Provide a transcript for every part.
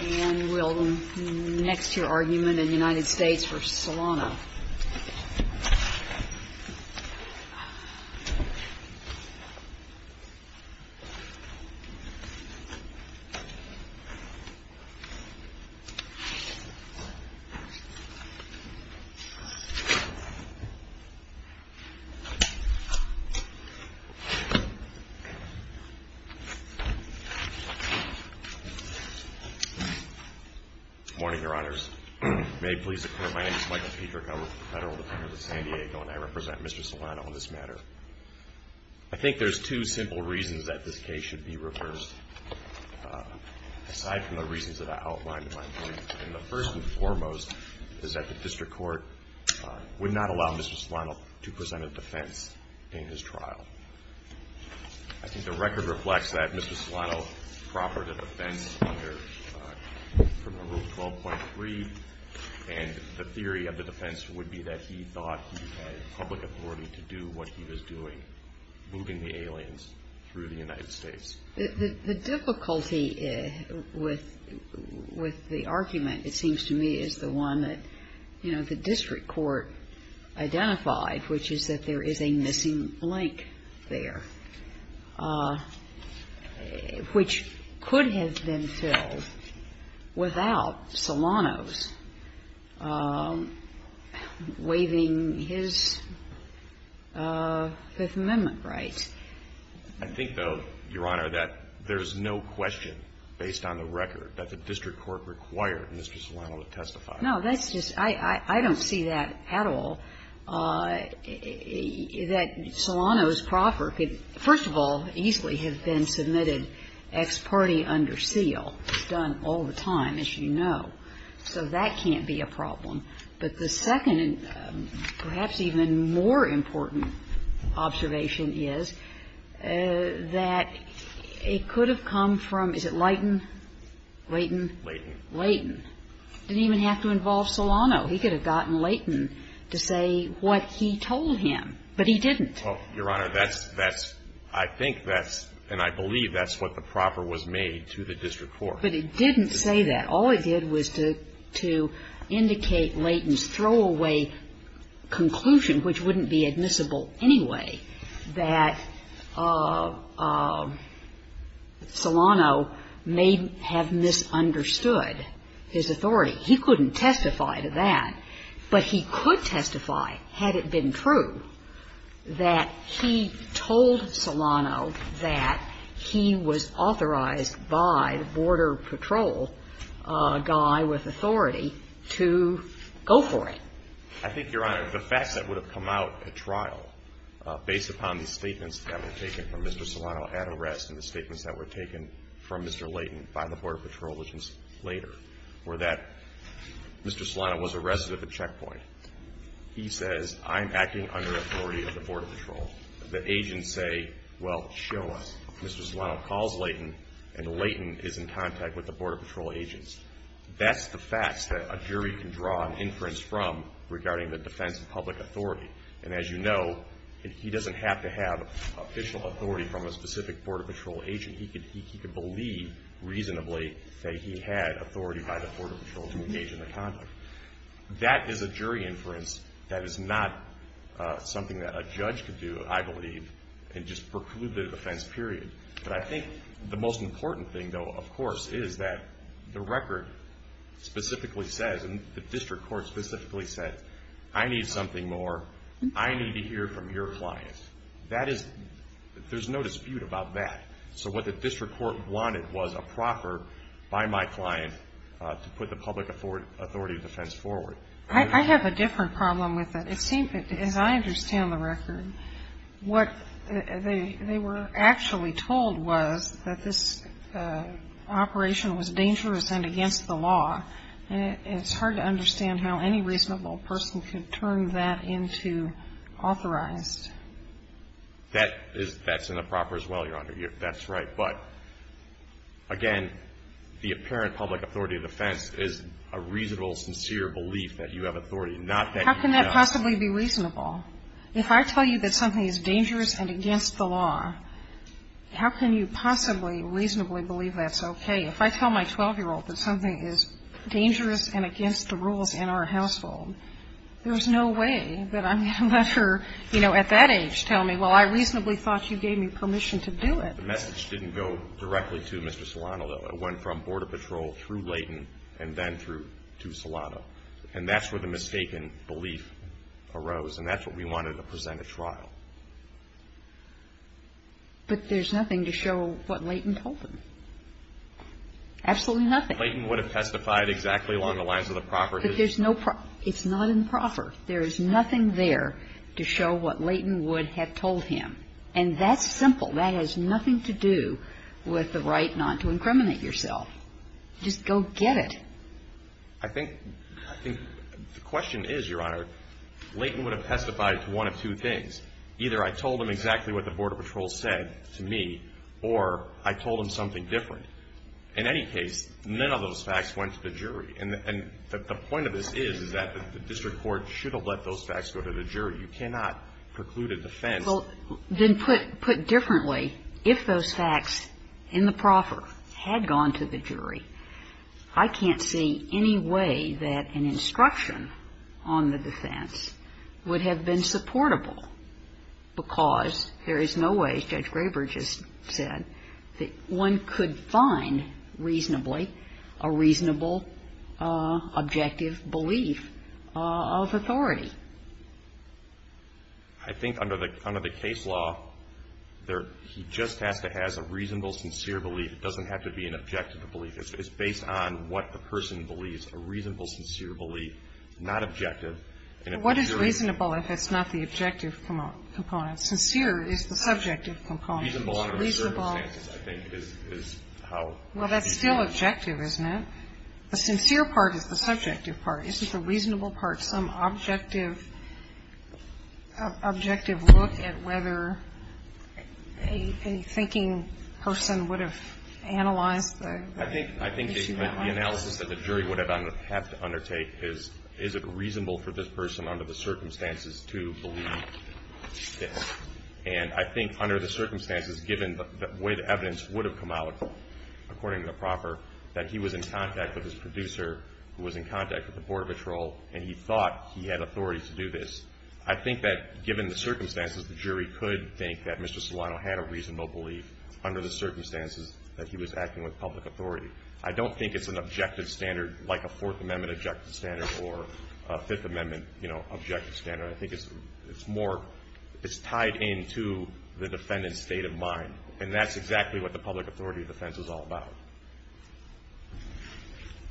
And we'll next hear argument in the United States v. Solano. Good morning, Your Honors. May it please the Court, my name is Michael Petryk. I work for the Federal Departments of San Diego, and I represent Mr. Solano on this matter. I think there's two simple reasons that this case should be reversed, aside from the reasons that I outlined in my brief. And the first and foremost is that the district court would not allow Mr. Solano to present a defense in his trial. I think the record reflects that Mr. Solano proffered a defense under Criminal Rule 12.3, and the theory of the defense would be that he thought he had public authority to do what he was doing, moving the aliens through the United States. The difficulty with the argument, it seems to me, is the one that the district court identified, which is that there is a missing link there, which could have been filled without Solano's waiving his Fifth Amendment rights. I think, though, Your Honor, that there's no question based on the record that the district court required Mr. Solano to testify. No, that's just – I don't see that at all. That Solano's proffer could, first of all, easily have been submitted ex parte under seal. It's done all the time, as you know. So that can't be a problem. But the second and perhaps even more important observation is that it could have come from, is it Leighton? Leighton? Leighton. Leighton. It didn't even have to involve Solano. He could have gotten Leighton to say what he told him, but he didn't. Well, Your Honor, that's – that's – I think that's, and I believe that's what the proffer was made to the district court. But it didn't say that. All it did was to – to indicate Leighton's throwaway conclusion, which wouldn't be admissible anyway, that Solano may have misunderstood his authority. He couldn't testify to that. But he could testify, had it been true, that he told Solano that he was authorized by the Border Patrol guy with authority to go for it. I think, Your Honor, the facts that would have come out at trial, based upon the statements that were taken from Mr. Solano at arrest and the statements that were taken from Mr. Leighton by the Border Patrol agents later, were that Mr. Solano was arrested at the checkpoint. He says, I'm acting under authority of the Border Patrol. The agents say, well, show us. Mr. Solano calls Leighton, and Leighton is in contact with the Border Patrol agents. That's the facts that a jury can draw an inference from regarding the defense of public authority. And as you know, he doesn't have to have official authority from a specific Border Patrol agent. He could believe reasonably that he had authority by the Border Patrol to engage in the conduct. That is a jury inference that is not something that a judge could do, I believe, and just preclude the defense, period. But I think the most important thing, though, of course, is that the record specifically says, and the district court specifically said, I need something more. I need to hear from your clients. There's no dispute about that. So what the district court wanted was a proffer by my client to put the public authority of defense forward. I have a different problem with that. It seems that, as I understand the record, what they were actually told was that this operation was dangerous and against the law, and it's hard to understand how any reasonable person could turn that into authorized. That's in the proffer as well, Your Honor. That's right. But, again, the apparent public authority of defense is a reasonable, sincere belief that you have authority, not that you don't. How can you possibly be reasonable? If I tell you that something is dangerous and against the law, how can you possibly reasonably believe that's okay? If I tell my 12-year-old that something is dangerous and against the rules in our household, there's no way that I'm going to let her, you know, at that age tell me, well, I reasonably thought you gave me permission to do it. The message didn't go directly to Mr. Solano, though. It went from Border Patrol through Layton and then through to Solano. And that's where the mistaken belief arose, and that's what we wanted to present at trial. But there's nothing to show what Layton told him. Absolutely nothing. Layton would have testified exactly along the lines of the proffer. But there's no proffer. It's not in the proffer. There is nothing there to show what Layton would have told him. And that's simple. That has nothing to do with the right not to incriminate yourself. Just go get it. I think the question is, Your Honor, Layton would have testified to one of two things. Either I told him exactly what the Border Patrol said to me, or I told him something different. In any case, none of those facts went to the jury. And the point of this is that the district court should have let those facts go to the jury. You cannot preclude a defense. Well, then put differently, if those facts in the proffer had gone to the jury, I can't see any way that an instruction on the defense would have been supportable, because there is no way, as Judge Graber just said, that one could find reasonably a reasonable, objective belief of authority. I think under the case law, he just has to have a reasonable, sincere belief. It doesn't have to be an objective belief. It's based on what the person believes, a reasonable, sincere belief, not objective. What is reasonable if it's not the objective component? Sincere is the subjective component. Reasonable under the circumstances, I think, is how. Well, that's still objective, isn't it? The sincere part is the subjective part. Isn't the reasonable part some objective look at whether a thinking person would have analyzed the issue that way? I think the analysis that the jury would have to undertake is, is it reasonable for this person under the circumstances to believe this? And I think under the circumstances, given the way the evidence would have come out according to the proffer, that he was in contact with his producer, who was in contact with the Border Patrol, and he thought he had authority to do this. I think that given the circumstances, the jury could think that Mr. Solano had a reasonable belief under the circumstances that he was acting with public authority. I don't think it's an objective standard like a Fourth Amendment objective standard or a Fifth Amendment, you know, objective standard. I think it's more, it's tied into the defendant's state of mind, and that's exactly what the public authority defense is all about.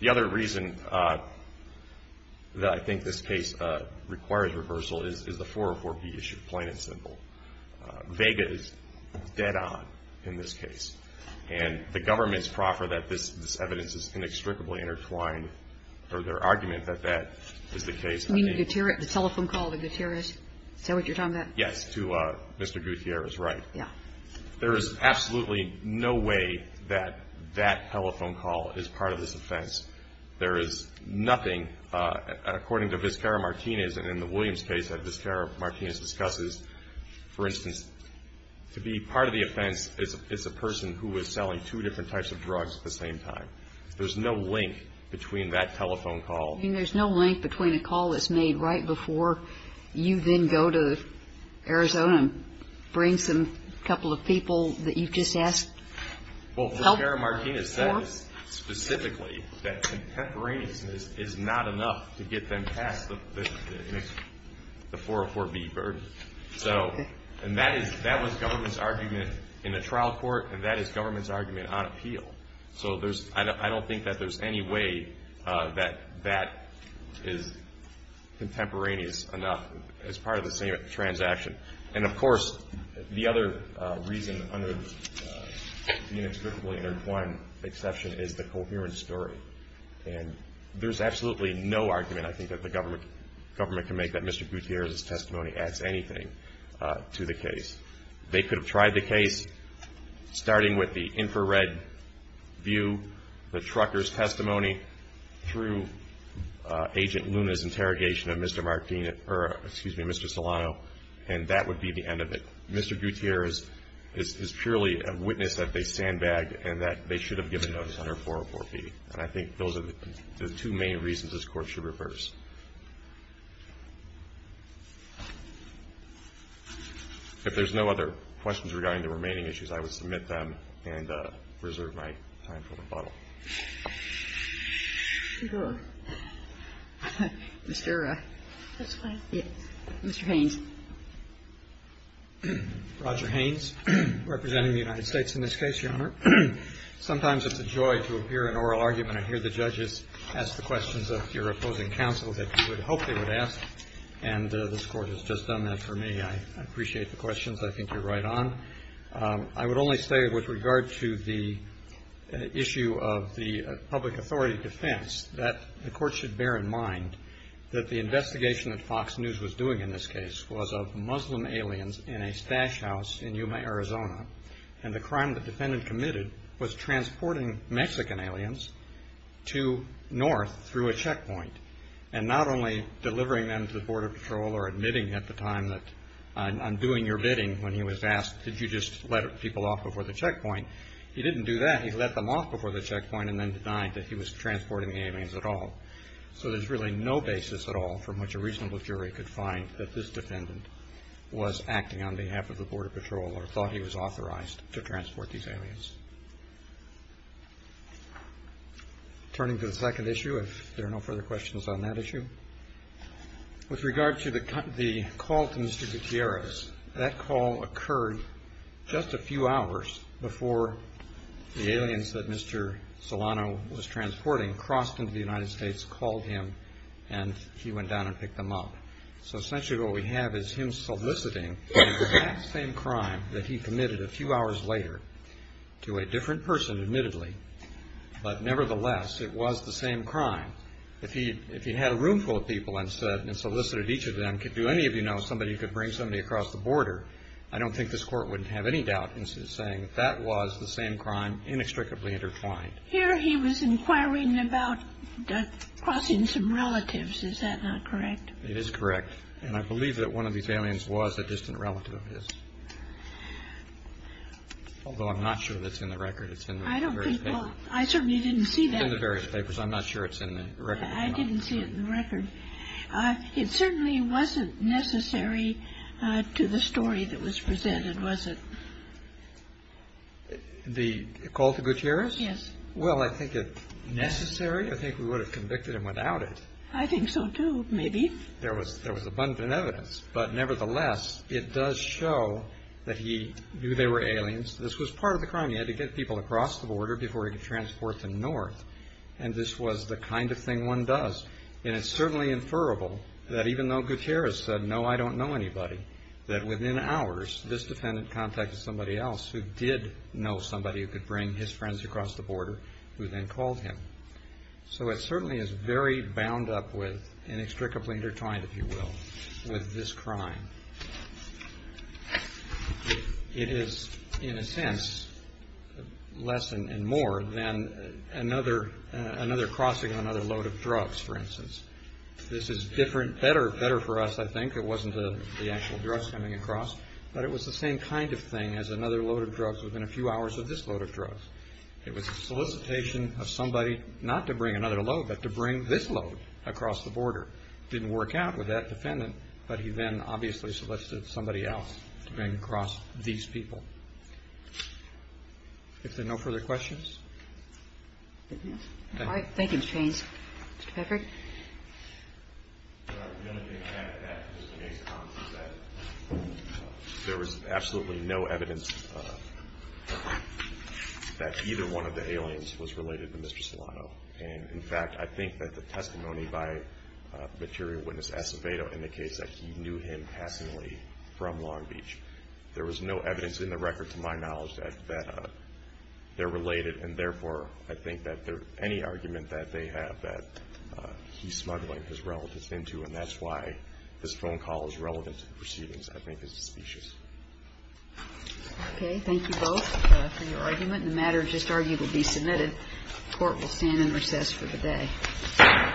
The other reason that I think this case requires reversal is the 404B issue, plain and simple. Vega is dead on in this case, and the government's proffer that this evidence is inextricably intertwined, or their argument that that is the case. You mean Gutierrez, the telephone call to Gutierrez? Is that what you're talking about? Yes, to Mr. Gutierrez, right. Yeah. There is absolutely no way that that telephone call is part of this offense. There is nothing, according to Vizcarra-Martinez, and in the Williams case that Vizcarra-Martinez discusses, for instance, to be part of the offense is a person who is selling two different types of drugs at the same time. There's no link between that telephone call. You mean there's no link between a call that's made right before you then go to Arizona and bring some couple of people that you've just asked help for? Well, Vizcarra-Martinez says specifically that contemporaneousness is not enough to get them past the 404B burden. And that was government's argument in the trial court, and that is government's argument on appeal. So I don't think that there's any way that that is contemporaneous enough as part of the same transaction. And, of course, the other reason under the inextricably intertwined exception is the coherence story. And there's absolutely no argument I think that the government can make that Mr. Gutierrez's testimony adds anything to the case. They could have tried the case starting with the infrared view, the trucker's testimony, through Agent Luna's interrogation of Mr. Solano, and that would be the end of it. Mr. Gutierrez is purely a witness that they sandbagged and that they should have given notice under 404B. And I think those are the two main reasons this court should reverse. If there's no other questions regarding the remaining issues, I would submit them and reserve my time for rebuttal. Mr. Haines. Roger Haines, representing the United States in this case, Your Honor. Sometimes it's a joy to hear an oral argument and hear the judges ask the questions of your opposing counsel. And this court has just done that for me. I appreciate the questions. I think you're right on. I would only say with regard to the issue of the public authority defense that the court should bear in mind that the investigation that Fox News was doing in this case was of Muslim aliens in a stash house in Yuma, Arizona. And the crime the defendant committed was transporting Mexican aliens to North through a checkpoint. And not only delivering them to the Border Patrol or admitting at the time that I'm doing your bidding when he was asked, did you just let people off before the checkpoint? He didn't do that. He let them off before the checkpoint and then denied that he was transporting the aliens at all. So there's really no basis at all from which a reasonable jury could find that this defendant was acting on behalf of the Border Patrol authorized to transport these aliens. Turning to the second issue, if there are no further questions on that issue. With regard to the call to Mr. Gutierrez, that call occurred just a few hours before the aliens that Mr. Solano was transporting crossed into the United States, called him, and he went down and picked them up. So essentially what we have is him soliciting the exact same crime that he committed a few hours later to a different person, admittedly. But nevertheless, it was the same crime. If he had a room full of people and solicited each of them, do any of you know somebody who could bring somebody across the border? I don't think this court would have any doubt in saying that that was the same crime inextricably intertwined. Here he was inquiring about crossing some relatives. Is that not correct? It is correct. And I believe that one of these aliens was a distant relative of his. Although I'm not sure that's in the record. It's in the various papers. I certainly didn't see that. It's in the various papers. I'm not sure it's in the record. I didn't see it in the record. It certainly wasn't necessary to the story that was presented, was it? The call to Gutierrez? Yes. Well, I think it's necessary. I think we would have convicted him without it. I think so, too, maybe. There was abundant evidence. But nevertheless, it does show that he knew they were aliens. This was part of the crime. He had to get people across the border before he could transport them north. And this was the kind of thing one does. And it's certainly inferrable that even though Gutierrez said, no, I don't know anybody, that within hours this defendant contacted somebody else who did know somebody who could bring his friends across the border who then called him. So it certainly is very bound up with, inextricably intertwined, if you will, with this crime. It is, in a sense, less and more than another crossing on another load of drugs, for instance. This is different, better for us, I think. It wasn't the actual drugs coming across. But it was the same kind of thing as another load of drugs within a few hours of this load of drugs. It was a solicitation of somebody not to bring another load, but to bring this load across the border. Didn't work out with that defendant, but he then obviously solicited somebody else to bring across these people. Is there no further questions? All right. Thank you, Mr. Haynes. Mr. Pefferd? I think the only thing I have to add, just to make comments, is that there was absolutely no evidence that either one of the aliens was related to Mr. Solano. And, in fact, I think that the testimony by material witness Acevedo in the case that he knew him personally from Long Beach, there was no evidence in the record, to my knowledge, that they're related. And, therefore, I think that any argument that they have that he's smuggling his relatives into, and that's why this phone call is relevant to the proceedings, I think is suspicious. Okay. Thank you both for your argument. The matter just argued will be submitted. The Court will stand in recess for the day.